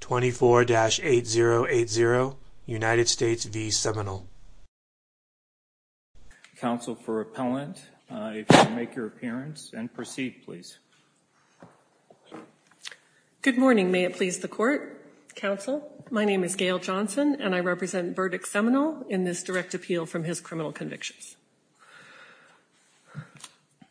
24-8080 United States v. Seminole counsel for appellant if you make your appearance and proceed please good morning may it please the court counsel my name is gail johnson and i represent verdict seminal in this direct appeal from his criminal convictions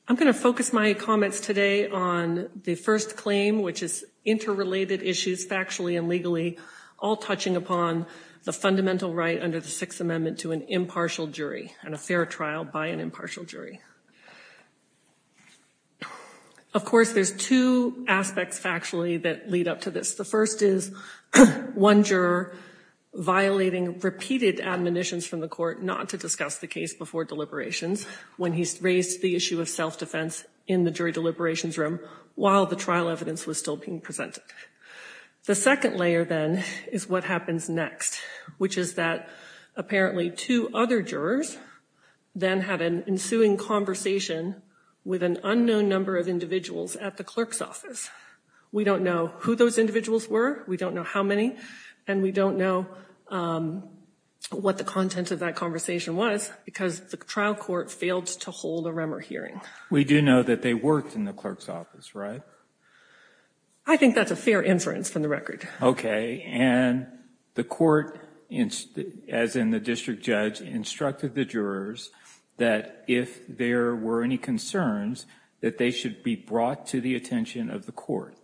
i'm going to focus my comments today on the first claim which is interrelated issues factually and legally all touching upon the fundamental right under the sixth amendment to an impartial jury and a fair trial by an impartial jury of course there's two aspects factually that lead up to this the first is one juror violating repeated admonitions from the court not to discuss the case before deliberations when he raised the issue of self-defense in the jury deliberations room while the trial evidence was still being presented the second layer then is what happens next which is that apparently two other jurors then had an ensuing conversation with an unknown number of individuals at the clerk's office we don't know who those individuals were we don't know how many and we don't know what the content of that conversation was because the trial court failed to hold a remer hearing we do know that they worked in the clerk's office right so i think that's a fair inference from the record okay and the court as in the district judge instructed the jurors that if there were any concerns that they should be brought to the attention of the court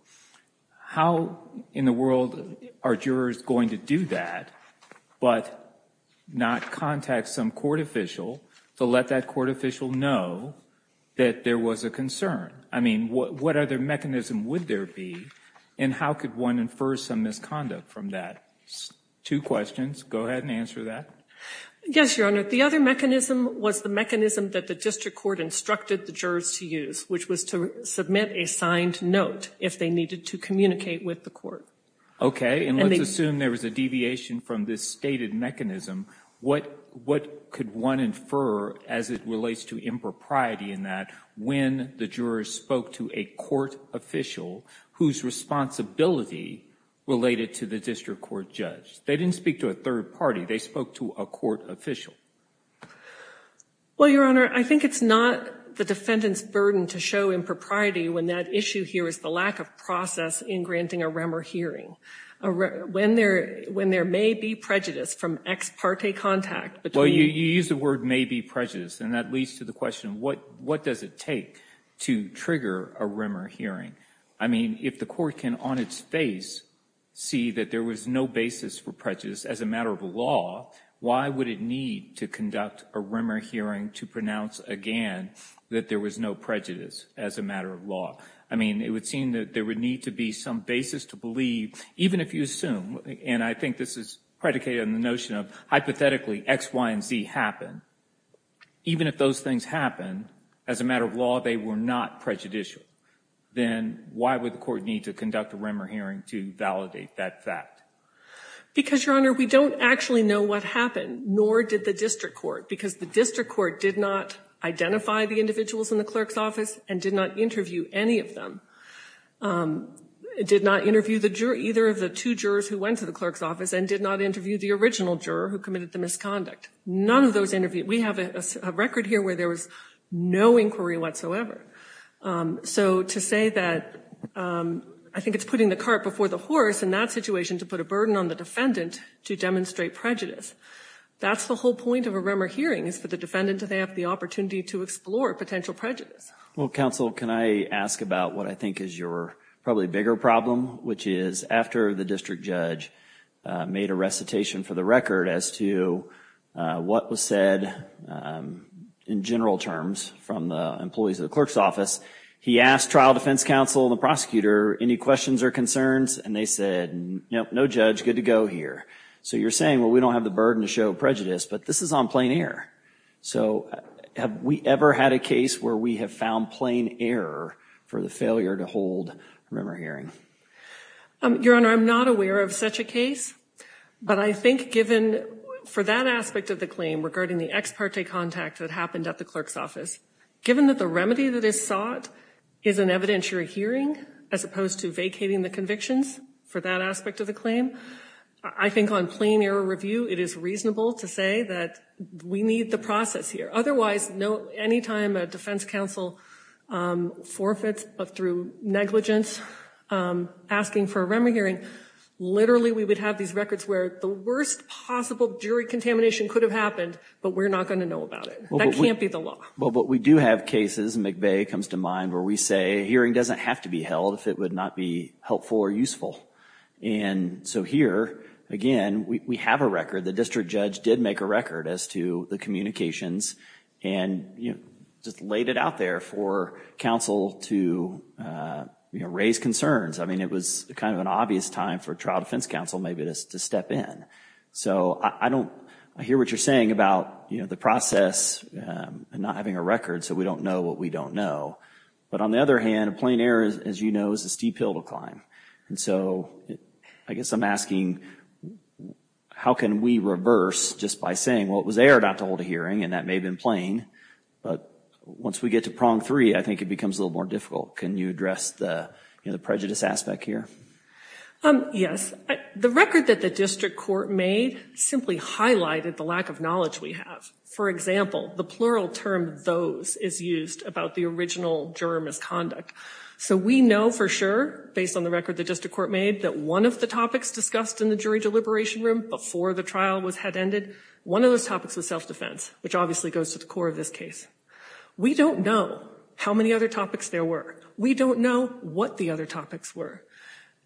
how in the world are jurors going to do that but not contact some court official to let that court official know that there was a concern i mean what what other mechanism would there be and how could one infer some misconduct from that two questions go ahead and answer that yes your honor the other mechanism was the mechanism that the district court instructed the jurors to use which was to submit a signed note if they needed to communicate with the court okay and let's assume there was a deviation from this stated mechanism what what could one infer as it relates to impropriety in that when the jurors spoke to a court official whose responsibility related to the district court judge they didn't speak to a third party they spoke to a court official well your honor i think it's not the defendant's burden to show impropriety when that issue here is the lack of process in granting a remer hearing when there when there may be prejudice from ex parte contact but well you use the word maybe prejudice and that leads to the question what what does it take to trigger a remer hearing i mean if the court can on its face see that there was no basis for prejudice as a matter of law why would it need to conduct a remer hearing to pronounce again that there was no prejudice as a matter of law i mean it would seem that there would need to be some basis to believe even if you assume and i think this is predicated on the notion of hypothetically x y and z happen even if those things happen as a matter of law they were not prejudicial then why would the court need to conduct a remer hearing to validate that fact because your honor we don't actually know what happened nor did the district court because the district court did not identify the individuals in the clerk's office and did not interview any of them did not interview the jury either of the two jurors who went to the clerk's office and did not interview the original juror who committed the misconduct none of those interviews we have a record here where there was no inquiry whatsoever so to say that i think it's putting the cart before the horse in that situation to put a burden on the defendant to demonstrate prejudice that's the whole point of a remer hearing is for the defendant to have the opportunity to explore potential prejudice well counsel can i ask about what i think is your probably bigger problem which is after the district judge made a recitation for the record as to what was said in general terms from the employees of the clerk's office he asked trial defense counsel and the prosecutor any questions or concerns and they said nope no judge good to go here so you're saying well we don't have the burden to show prejudice but this is on plain air so have we ever had a case where we have found plain error for the failure to hold a remer hearing um your honor i'm not aware of such a case but i think given for that aspect of the claim regarding the ex parte contact that happened at the clerk's office given that the remedy that is sought is an evidentiary hearing as opposed to vacating the convictions for that aspect of the claim i think on plain error review it is reasonable to say that we need the process here otherwise no anytime a defense counsel um forfeits but through negligence um asking for a remedy hearing literally we would have these records where the worst possible jury contamination could have happened but we're not going to know about it that can't be the law well but we do have cases and mcveigh comes to mind where we say hearing doesn't have to be held if it would not be helpful or useful and so here again we have a record the district judge did make a record as to the communications and you know just laid it out there for counsel to uh you know raise concerns i mean it was kind of an obvious time for trial defense counsel maybe just to step in so i don't i hear what you're saying about you know the process and not having a record so we don't know what we don't know but on the other hand plain error as you know is a steep hill to climb and so i guess i'm asking how can we reverse just by saying well it was and that may have been plain but once we get to prong three i think it becomes a little more difficult can you address the you know the prejudice aspect here um yes the record that the district court made simply highlighted the lack of knowledge we have for example the plural term those is used about the original juror misconduct so we know for sure based on the record the district court made that one of the topics discussed in the jury deliberation room before the was head ended one of those topics was self-defense which obviously goes to the core of this case we don't know how many other topics there were we don't know what the other topics were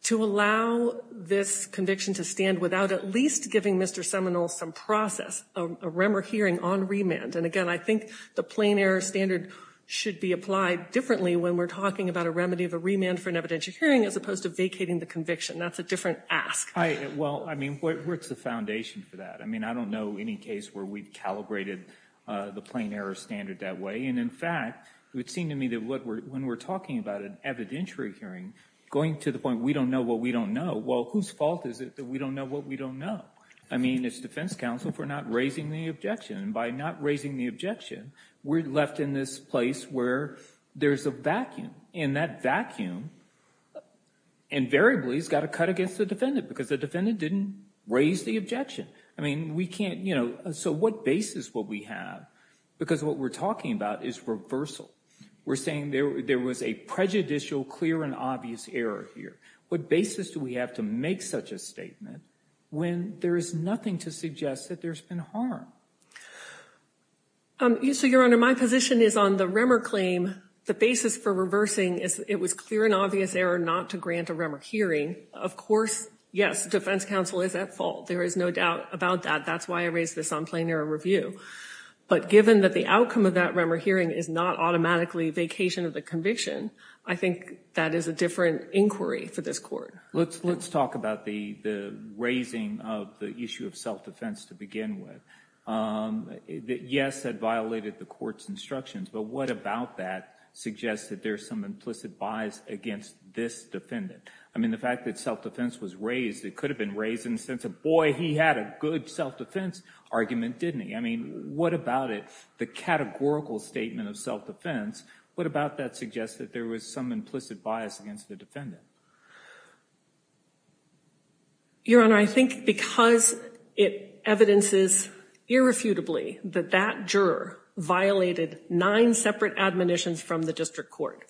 to allow this conviction to stand without at least giving mr seminal some process a remor hearing on remand and again i think the plain error standard should be applied differently when we're talking about a remedy of a remand for an evidentiary hearing as opposed to vacating the conviction that's a different ask i well i mean where's the foundation for that i mean i don't know any case where we've calibrated uh the plain error standard that way and in fact it would seem to me that what we're when we're talking about an evidentiary hearing going to the point we don't know what we don't know well whose fault is it that we don't know what we don't know i mean it's defense counsel for not raising the objection and by not raising the objection we're left in this place where there's a vacuum and that vacuum invariably has got to cut against the defendant because the defendant didn't raise the objection i mean we can't you know so what basis will we have because what we're talking about is reversal we're saying there there was a prejudicial clear and obvious error here what basis do we have to make such a statement when there is nothing to suggest that there's been harm um so your honor my position is on the remor claim the basis for reversing is it was clear and obvious error not to grant a remor hearing of course yes defense counsel is at fault there is no doubt about that that's why i raised this on plain error review but given that the outcome of that remor hearing is not automatically vacation of the conviction i think that is a different inquiry for this court let's let's talk about the the raising of the issue of self-defense to begin with um yes that violated the court's instructions but what about that suggests that there's some implicit bias against this defendant i mean the fact that self-defense was raised it could have been raised in the sense of boy he had a good self-defense argument didn't he i mean what about it the categorical statement of self-defense what about that suggests that there was some implicit bias against the defendant your honor i think because it evidences irrefutably that that juror violated nine separate admonitions from the district court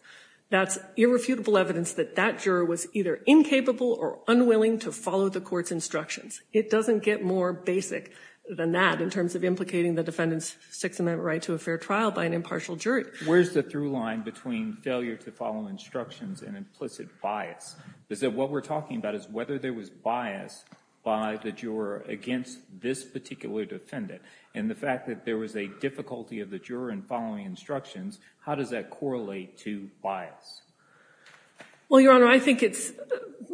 that's irrefutable evidence that that juror was either incapable or unwilling to follow the court's instructions it doesn't get more basic than that in terms of implicating the defendant's six-amendment right to a fair trial by an impartial jury where's the through line between failure to follow instructions and implicit bias is that what we're talking about is whether there was bias by the juror against this particular defendant and the fact that there was a difficulty of the juror in following instructions how does that correlate to bias well your honor i think it's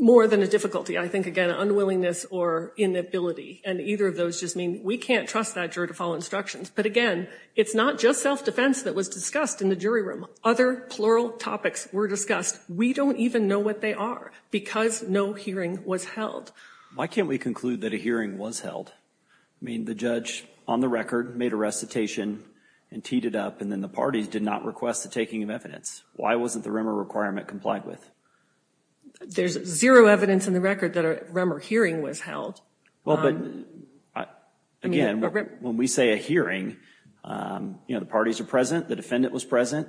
more than a difficulty i think again unwillingness or inability and either of those just mean we can't trust that juror to follow instructions but again it's not just self-defense that was discussed in the jury room other plural topics were discussed we don't even know what they are because no hearing was held why can't we conclude that a hearing was held i mean the judge on the record made a recitation and teed it up and then the parties did not request the taking of evidence why wasn't the rumor requirement complied with there's zero evidence in the record that a rumor hearing was held well but again when we say a hearing um you know the parties are present the defendant was present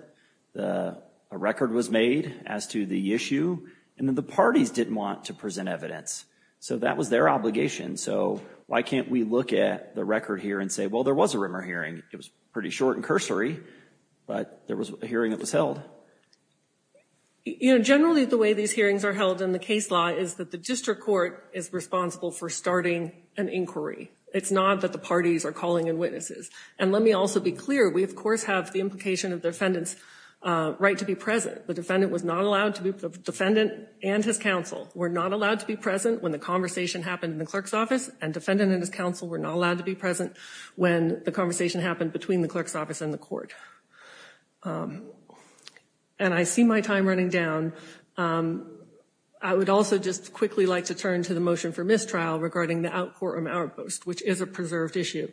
the record was made as to the issue and then the parties didn't want to present evidence so that was their obligation so why can't we look at the record here and say well there was a rumor hearing it was pretty short and cursory but there was a hearing that was held you know generally the way these hearings are held in the case law is that the district court is responsible for starting an inquiry it's not that the parties are calling in witnesses and let me also be clear we of course have the implication of the defendant's right to be present the defendant was not allowed to be the defendant and his counsel were not allowed to be present when the conversation happened in the clerk's office and defendant and his counsel were not allowed to be present when the conversation happened between the clerk's office and the court and I see my time running down I would also just quickly like to turn to the motion for mistrial regarding the outpour or outburst which is a preserved issue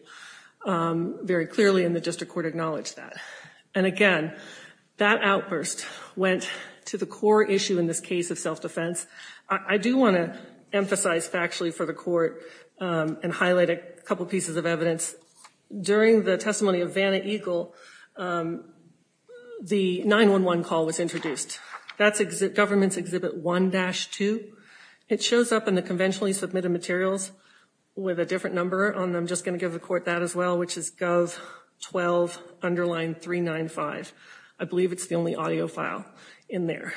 very clearly in the district court acknowledged that and again that outburst went to the core issue in this case of self-defense I do want to emphasize factually for the court and highlight a couple pieces of evidence during the testimony of Vanna Eagle the 9-1-1 call was introduced that's government's exhibit 1-2 it shows up in the conventionally submitted materials with a different number on them just going to give the court that as well which is gov 12 underline 395 I believe it's the only audio file in there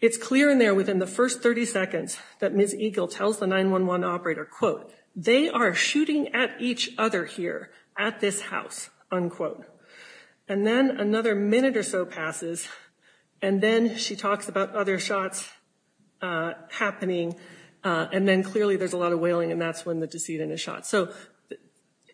it's clear in there within the first 30 seconds that Ms. Eagle tells the 9-1-1 operator quote they are shooting at each other here at this house unquote and then another minute or so passes and then she talks about other shots uh happening uh and then clearly there's a lot of wailing and that's when the decedent is shot so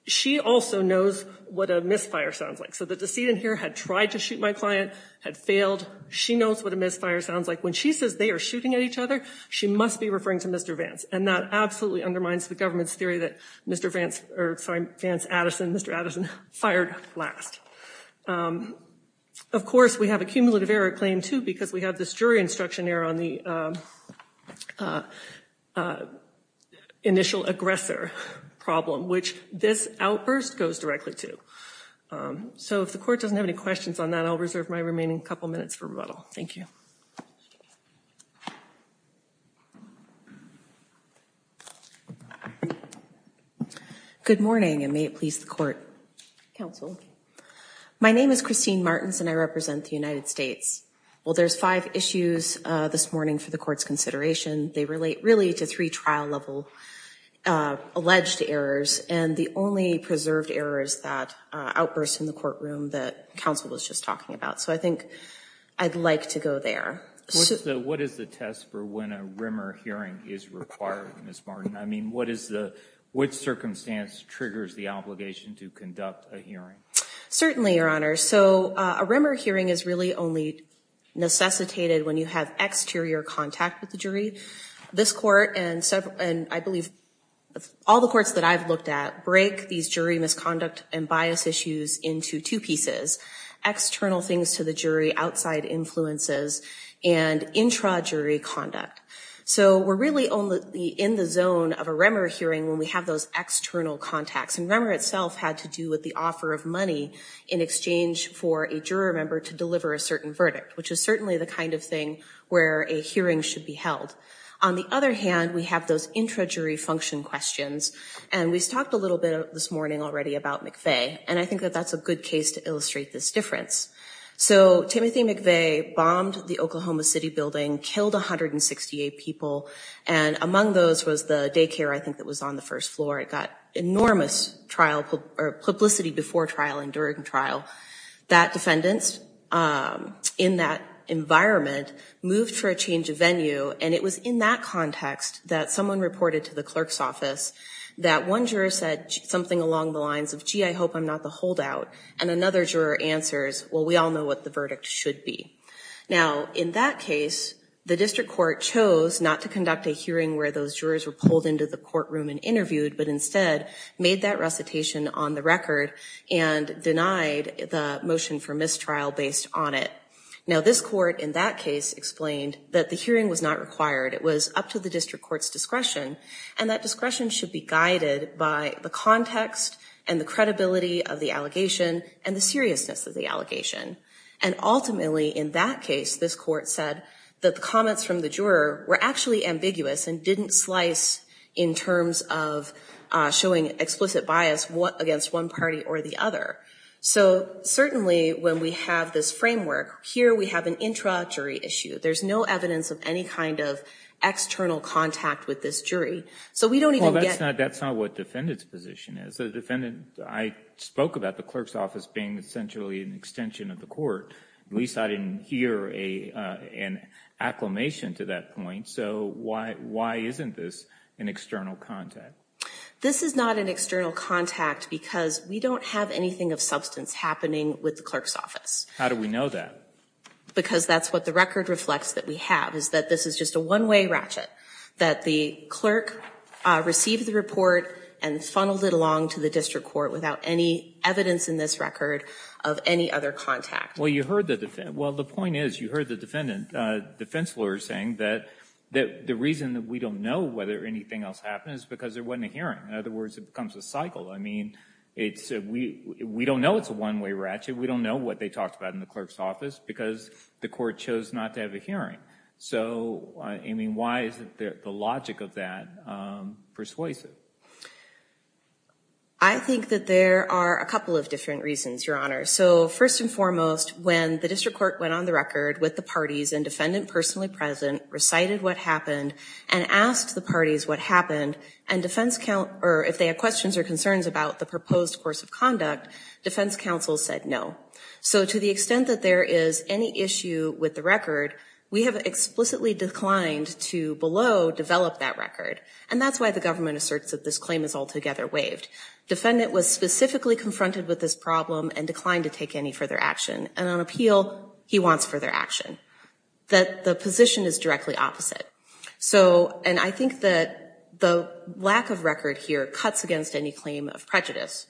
she also knows what a misfire sounds like so the decedent here had tried to shoot my client had failed she knows what a misfire sounds like when she says they are shooting at each other she must be referring to Mr. Vance and that absolutely undermines the government's theory that Mr. Vance or sorry Vance Addison Mr. Addison fired last of course we have a cumulative error claim too because we have this jury instruction error on the initial aggressor problem which this outburst goes directly to so if the court doesn't have any questions on that I'll reserve my remaining couple minutes for rebuttal thank you good morning and may it please the court counsel my name is Christine Martins and I represent the United States well there's five issues uh this morning for the court's consideration they relate really to three trial level uh alleged errors and the only preserved error is that uh outburst in the courtroom that counsel was just talking about so I think I'd like to go there so what is the test for when a rimmer hearing is required Ms. Martin I mean what is the which circumstance triggers the obligation to conduct a hearing certainly your honor so a rimmer hearing is really only necessitated when you have exterior contact with the jury this court and several and I believe all the courts that I've looked at break these jury misconduct and bias issues into two pieces external things to the jury outside influences and intra jury conduct so we're really only in the zone of a rimmer hearing when we have those external contacts and rimmer itself had to do with the offer of money in exchange for a juror member to deliver a certain verdict which is certainly the kind of thing where a hearing should be held on the other hand we have those intra jury function questions and we've talked a little bit this morning already about McVeigh and I think that that's a good case to illustrate this difference so Timothy McVeigh bombed the Oklahoma city building killed 168 people and among those was the daycare I think that was on the first floor it got enormous trial or publicity before trial and during trial that defendants in that environment moved for a change of venue and it was in that context that someone reported to the clerk's office that one juror said something along the lines of gee I hope I'm not the holdout and another juror answers well we all know what the verdict should be now in that case the district court chose not to conduct a hearing where those jurors were pulled into the courtroom and interviewed but instead made that recitation on the record and denied the motion for mistrial based on it now this court in that case explained that the hearing was not required it was up to the district court's discretion and that discretion should be guided by the context and the credibility of the allegation and the seriousness of the allegation and ultimately in that case this court said that the comments from the juror were actually ambiguous and didn't slice in terms of showing explicit bias what against one party or the other so certainly when we have this framework here we have an introductory issue there's no evidence of any kind of external contact with this jury so we don't even get that's not what defendant's position is the defendant I spoke about the clerk's office being essentially an extension of the court at least I didn't hear a uh an acclamation to that point so why why isn't this an external contact this is not an external contact because we don't have anything of substance happening with the clerk's office how do we know that because that's what the record reflects that we have is that this is just a one-way ratchet that the clerk uh received the report and funneled it along to the district court without any evidence in this record of any other contact well you heard the defense well the point is you heard the defendant uh defense lawyer saying that that the reason that we don't know whether anything else happened is because there wasn't a hearing in other words it becomes a cycle I mean it's we we don't know it's a one-way ratchet we don't know what they talked about in the clerk's office because the court chose not to have a hearing so I mean why is it the logic of that um persuasive I think that there are a couple of different reasons your honor so first and foremost when the district court went on the record with the parties and defendant personally present recited what happened and asked the parties what happened and defense count or if they had questions or concerns about the proposed course of conduct defense counsel said no so to the extent that there is any issue with the record we have explicitly declined to below develop that record and that's why the government asserts that this claim is altogether waived defendant was specifically confronted with this problem and declined to take any further action and on appeal he wants further action that the position is directly opposite so and I think that the lack of record here cuts against any claim of prejudice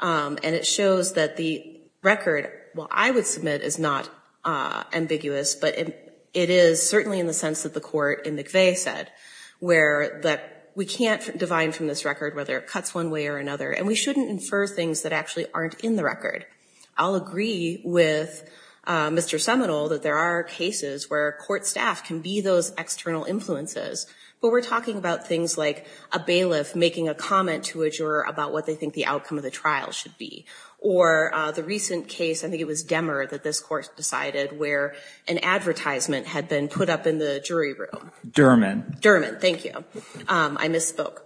and it shows that the record well I would submit is not ambiguous but it is certainly in the sense that the court in McVeigh said where that we can't divide from this record whether it cuts one way or another and we shouldn't infer things that actually aren't in the record I'll agree with Mr. Seminole that there are cases where court staff can be those external influences but we're talking about things like a bailiff making a comment to a juror about what they think the outcome of the trial should be or the recent case I think it was Demmer that this court decided where an advertisement had been put up in the jury room. Derman. Derman, thank you. I misspoke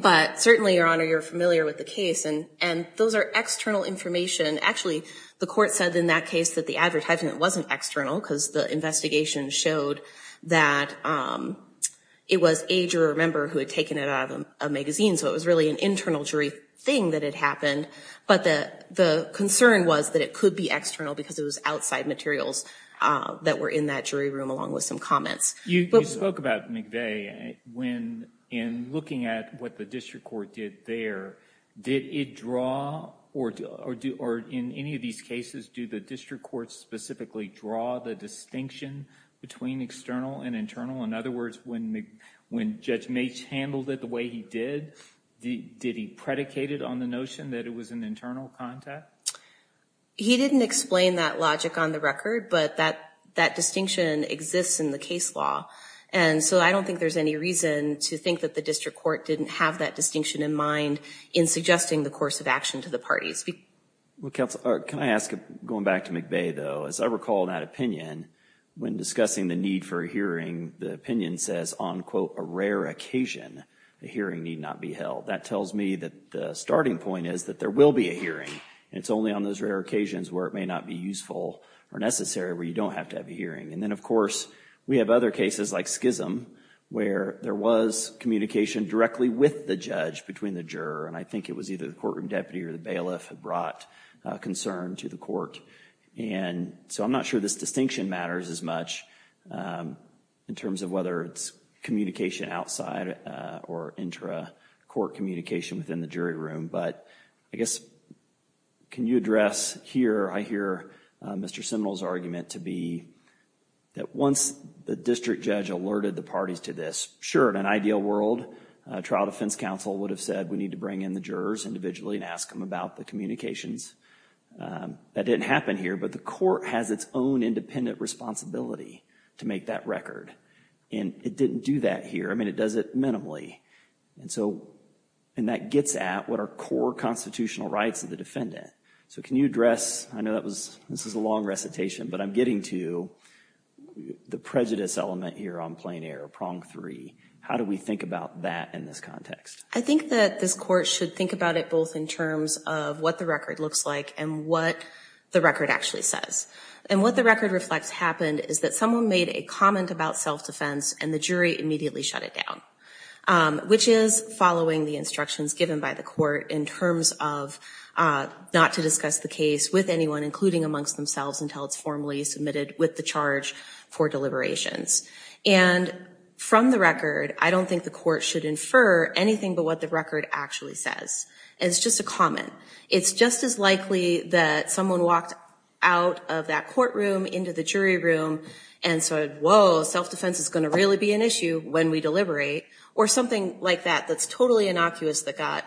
but certainly your honor you're familiar with the case and and those are external information actually the court said in that case that the advertisement wasn't external because the investigation showed that it was a juror member who had taken it out of a magazine so it was really an internal jury thing that had happened but the the concern was that it could be external because it was outside materials uh that were in that jury room along with some comments. You spoke about McVeigh when in looking at what the district court did there did it draw or or do or in any of these cases do the district courts specifically draw the distinction between external and internal in other words when when Mitch handled it the way he did the did he predicated on the notion that it was an internal contact? He didn't explain that logic on the record but that that distinction exists in the case law and so I don't think there's any reason to think that the district court didn't have that distinction in mind in suggesting the course of action to the parties. Well counsel can I ask going back to McVeigh though as I recall that opinion when discussing the need for hearing the opinion says on quote a rare occasion the hearing need not be held that tells me that the starting point is that there will be a hearing it's only on those rare occasions where it may not be useful or necessary where you don't have to have a hearing and then of course we have other cases like Schism where there was communication directly with the judge between the juror and I think it was either the courtroom deputy or the bailiff had brought concern to the court and so I'm not sure this distinction matters as much in terms of whether it's communication outside or intra court communication within the jury room but I guess can you address here I hear Mr. Seminole's argument to be that once the district judge alerted the parties to this sure in an ideal world a trial defense counsel would have said we need to bring in the jurors individually and ask them about the communications that didn't happen here but the court has its own independent responsibility to make that record and it didn't do that here I mean it does it minimally and so and that gets at what our core constitutional rights of the defendant so can you address I know that was this is a long recitation but I'm getting to the prejudice element here on plain air prong three how do we think about that in this context? I think that this court should think about it both in terms of what the record looks like and what the record actually says and what the record reflects happened is that someone made a comment about self-defense and the jury immediately shut it down which is following the instructions given by the court in terms of not to discuss the case with anyone including amongst themselves until it's formally submitted with the charge for deliberations and from the record I don't think the court should infer anything but what the record actually says it's just a comment it's just as likely that someone walked out of that courtroom into the jury room and said whoa self-defense is going to really be an issue when we deliberate or something like that that's totally innocuous that got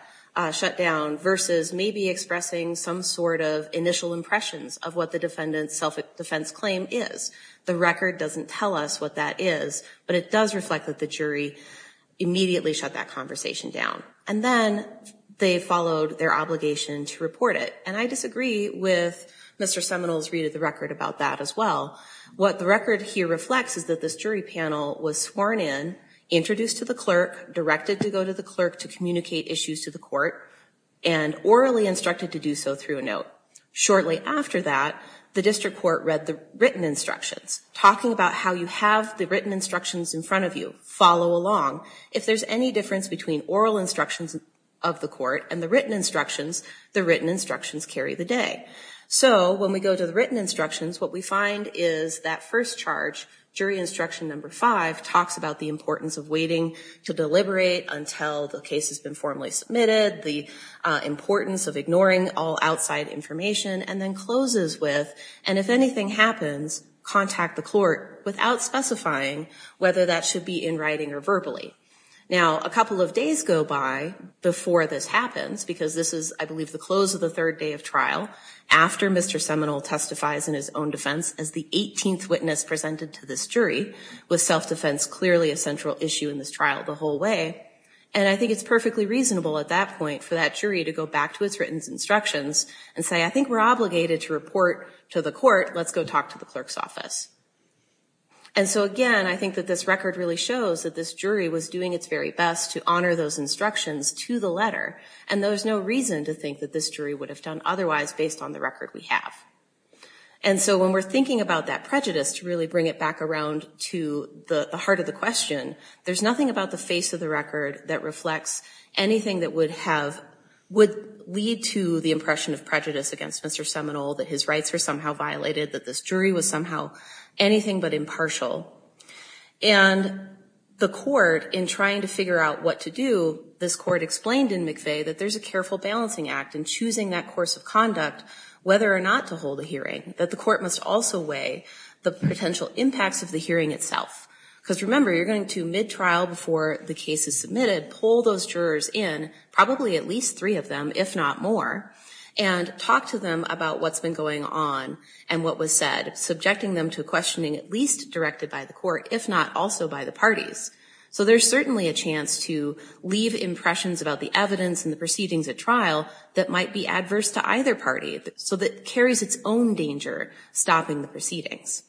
shut down versus maybe expressing some sort of initial impressions of what the defendant's self-defense claim is the record doesn't tell us what that is but it does reflect that the jury immediately shut that conversation down and then they followed their obligation to report it and I disagree with Mr. Seminole's read of the record about that as well what the record here reflects is that this jury panel was sworn in introduced to the clerk directed to go to the clerk to communicate issues to the court and orally instructed to do so through a note shortly after that the district court read the written instructions talking about how you have the written instructions in front of you follow along if there's any difference between oral instructions of the court and the written instructions the written instructions carry the day so when we go to the written instructions what we find is that first charge jury instruction number five talks about the importance of waiting to deliberate until the case has been formally submitted the importance of ignoring all outside information and then closes with and if anything happens contact the court without specifying whether that should be in writing or verbally now a couple of days go by before this happens because this is I believe the close of the third day of trial after Mr. Seminole testifies in his own defense as the 18th witness presented to this jury with self-defense clearly a central issue in this trial the whole way and I think it's perfectly reasonable at that point for that jury to go back to its written instructions and say I think we're obligated to report to the court let's go talk to the clerk's office and so again I think that this record really shows that this jury was doing its very best to honor those instructions to the letter and there's no reason to think that this jury would have done otherwise based on the record we have and so when we're thinking about that prejudice to really bring it back around to the heart of the question there's nothing about the face of the record that reflects anything that would have would lead to the impression of prejudice against Mr. Seminole that his rights are somehow violated that this jury was somehow anything but impartial and the court in trying to figure out what to do this court explained in McVeigh that there's a careful balancing act in choosing that course of conduct whether or not to hold a hearing that the court must also weigh the potential impacts of the hearing itself because remember you're going to mid-trial before the case is submitted pull those jurors in probably at least three of them if not more and talk to them about what's been going on and what was said subjecting them to questioning at least directed by the court if not also by the parties so there's certainly a chance to leave impressions about the evidence and the proceedings at trial that might be adverse to either party so that carries its own danger stopping the proceedings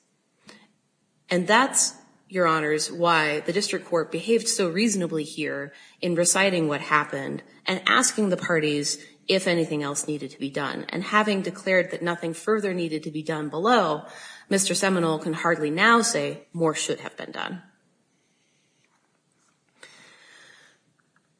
and that's your honors why the district court behaved so reasonably here in reciting what happened and asking the parties if anything else needed to be done and having declared that nothing further needed to be done below Mr. Seminole can hardly now say more should have been done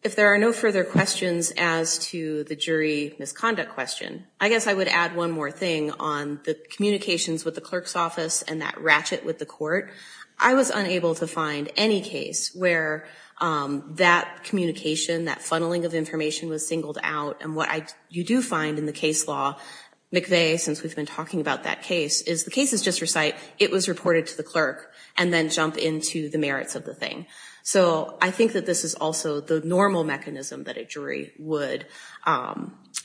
if there are no further questions as to the jury misconduct question I guess I would add one more thing on the communications with the clerk's office and that ratchet with the court I was unable to find any case where that communication that funneling of information was singled out and what I you do find in the case law McVeigh since we've been talking about that case is the cases just recite it was reported to the clerk and then jump into the merits of the thing so I think that this is also the normal mechanism that a jury would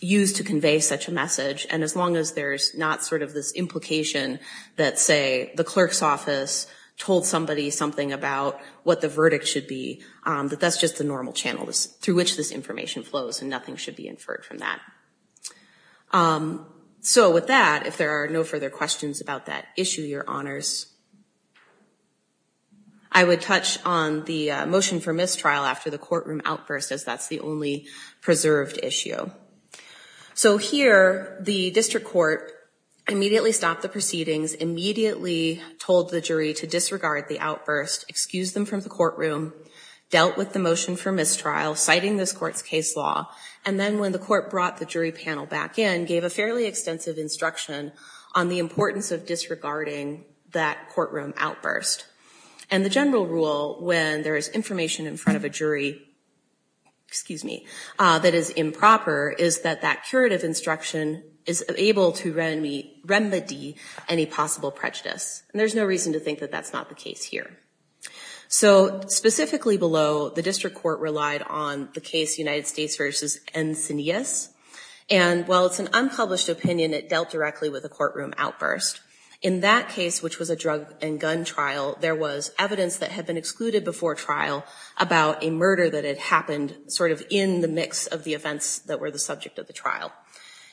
use to convey such message and as long as there's not sort of this implication that say the clerk's office told somebody something about what the verdict should be that that's just the normal channel through which this information flows and nothing should be inferred from that so with that if there are no further questions about that issue your honors I would touch on the motion for mistrial after the courtroom outburst as that's the only preserved issue so here the district court immediately stopped the proceedings immediately told the jury to disregard the outburst excuse them from the courtroom dealt with the motion for mistrial citing this court's case law and then when the court brought the jury panel back in gave a fairly extensive instruction on the importance of disregarding that courtroom outburst and the general rule when there is information in front of a jury excuse me that is improper is that that curative instruction is able to remedy remedy any possible prejudice and there's no reason to think that that's not the case here so specifically below the district court relied on the case united states versus ensign yes and while it's an unpublished opinion it dealt directly with a courtroom outburst in that case which was a drug and gun trial there was evidence that had been excluded before trial about a murder that had happened sort of in the mix of the events that were the subject of the trial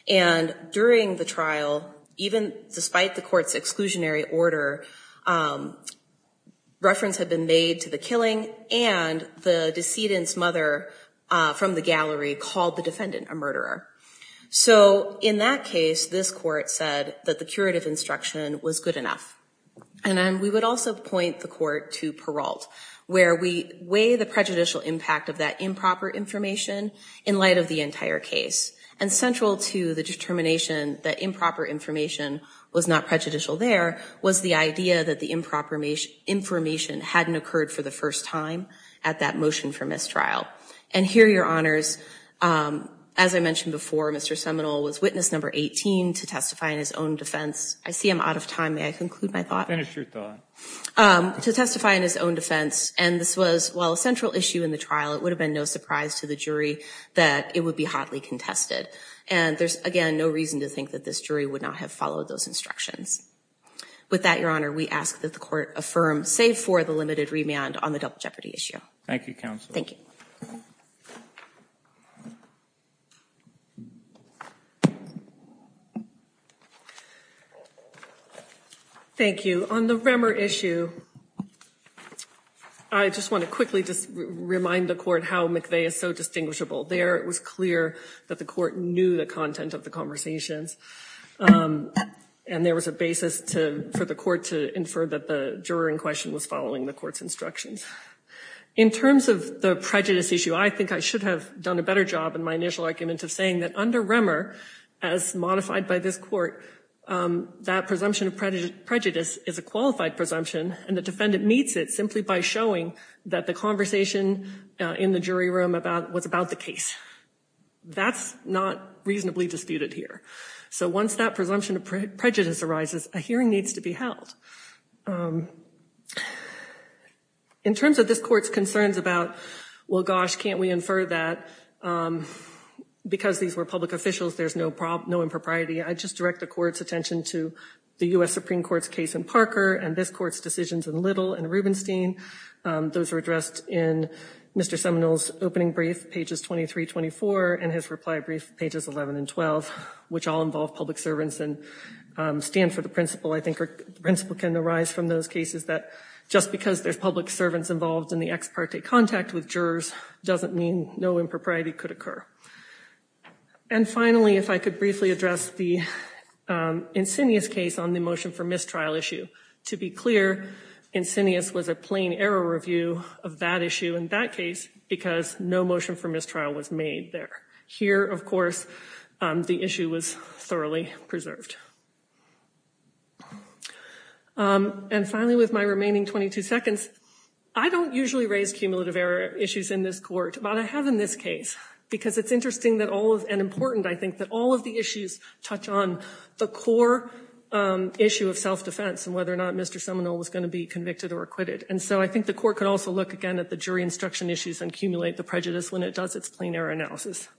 and during the trial even despite the court's exclusionary order reference had been made to the killing and the decedent's mother from the gallery called the defendant a murderer so in that case this court said that the curative instruction was good enough and then we would also point the court to paroled where we weigh the prejudicial impact of that improper information in light of the entire case and central to the determination that improper information was not prejudicial there was the idea that the improper information hadn't occurred for the first time at that motion for mistrial and here your honors as i mentioned before mr seminal was witness number 18 to testify in his own defense i see i'm out of time may i conclude my thought finish your thought um to testify in his own defense and this was while a central issue in the trial it would have been no surprise to the jury that it would be hotly contested and there's again no reason to think that this jury would not have followed those instructions with that your honor we ask that the court affirm save for the on the double jeopardy issue thank you counsel thank you thank you on the remmer issue i just want to quickly just remind the court how mcveigh is so distinguishable there it was clear that the court knew the content of the conversations um and there was a basis to for the court to infer that the juror in question was following the court's instructions in terms of the prejudice issue i think i should have done a better job in my initial argument of saying that under remmer as modified by this court um that presumption of prejudice prejudice is a qualified presumption and the defendant meets it simply by showing that the conversation in the jury room about what's about the case that's not reasonably disputed here so once that presumption of prejudice arises a hearing needs to be held in terms of this court's concerns about well gosh can't we infer that um because these were public officials there's no problem no impropriety i just direct the court's attention to the u.s supreme court's case in parker and this court's decisions in little and rubenstein those were addressed in mr seminole's opening brief pages 23 24 and his reply brief pages 11 and 12 which all involve public servants and stand for the principle i think the principle can arise from those cases that just because there's public servants involved in the ex parte contact with jurors doesn't mean no impropriety could occur and finally if i could briefly address the insidious case on the motion for mistrial issue to be clear insidious was a plain error review of that issue in that case because no motion for mistrial was made there here of course the issue was thoroughly preserved and finally with my remaining 22 seconds i don't usually raise cumulative error issues in this court but i have in this case because it's interesting that all of and important i think that all of the issues touch on the core issue of self-defense and whether or not mr seminole was going to be convicted or acquitted and so i think the court could also look again at the jury instruction issues and accumulate the prejudice when it does its plain error analysis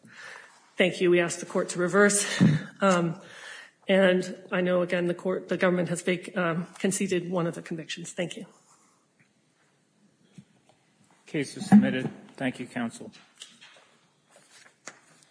thank you we ask the court to reverse and i know again the court the government has conceded one of the convictions thank you case is submitted thank you counsel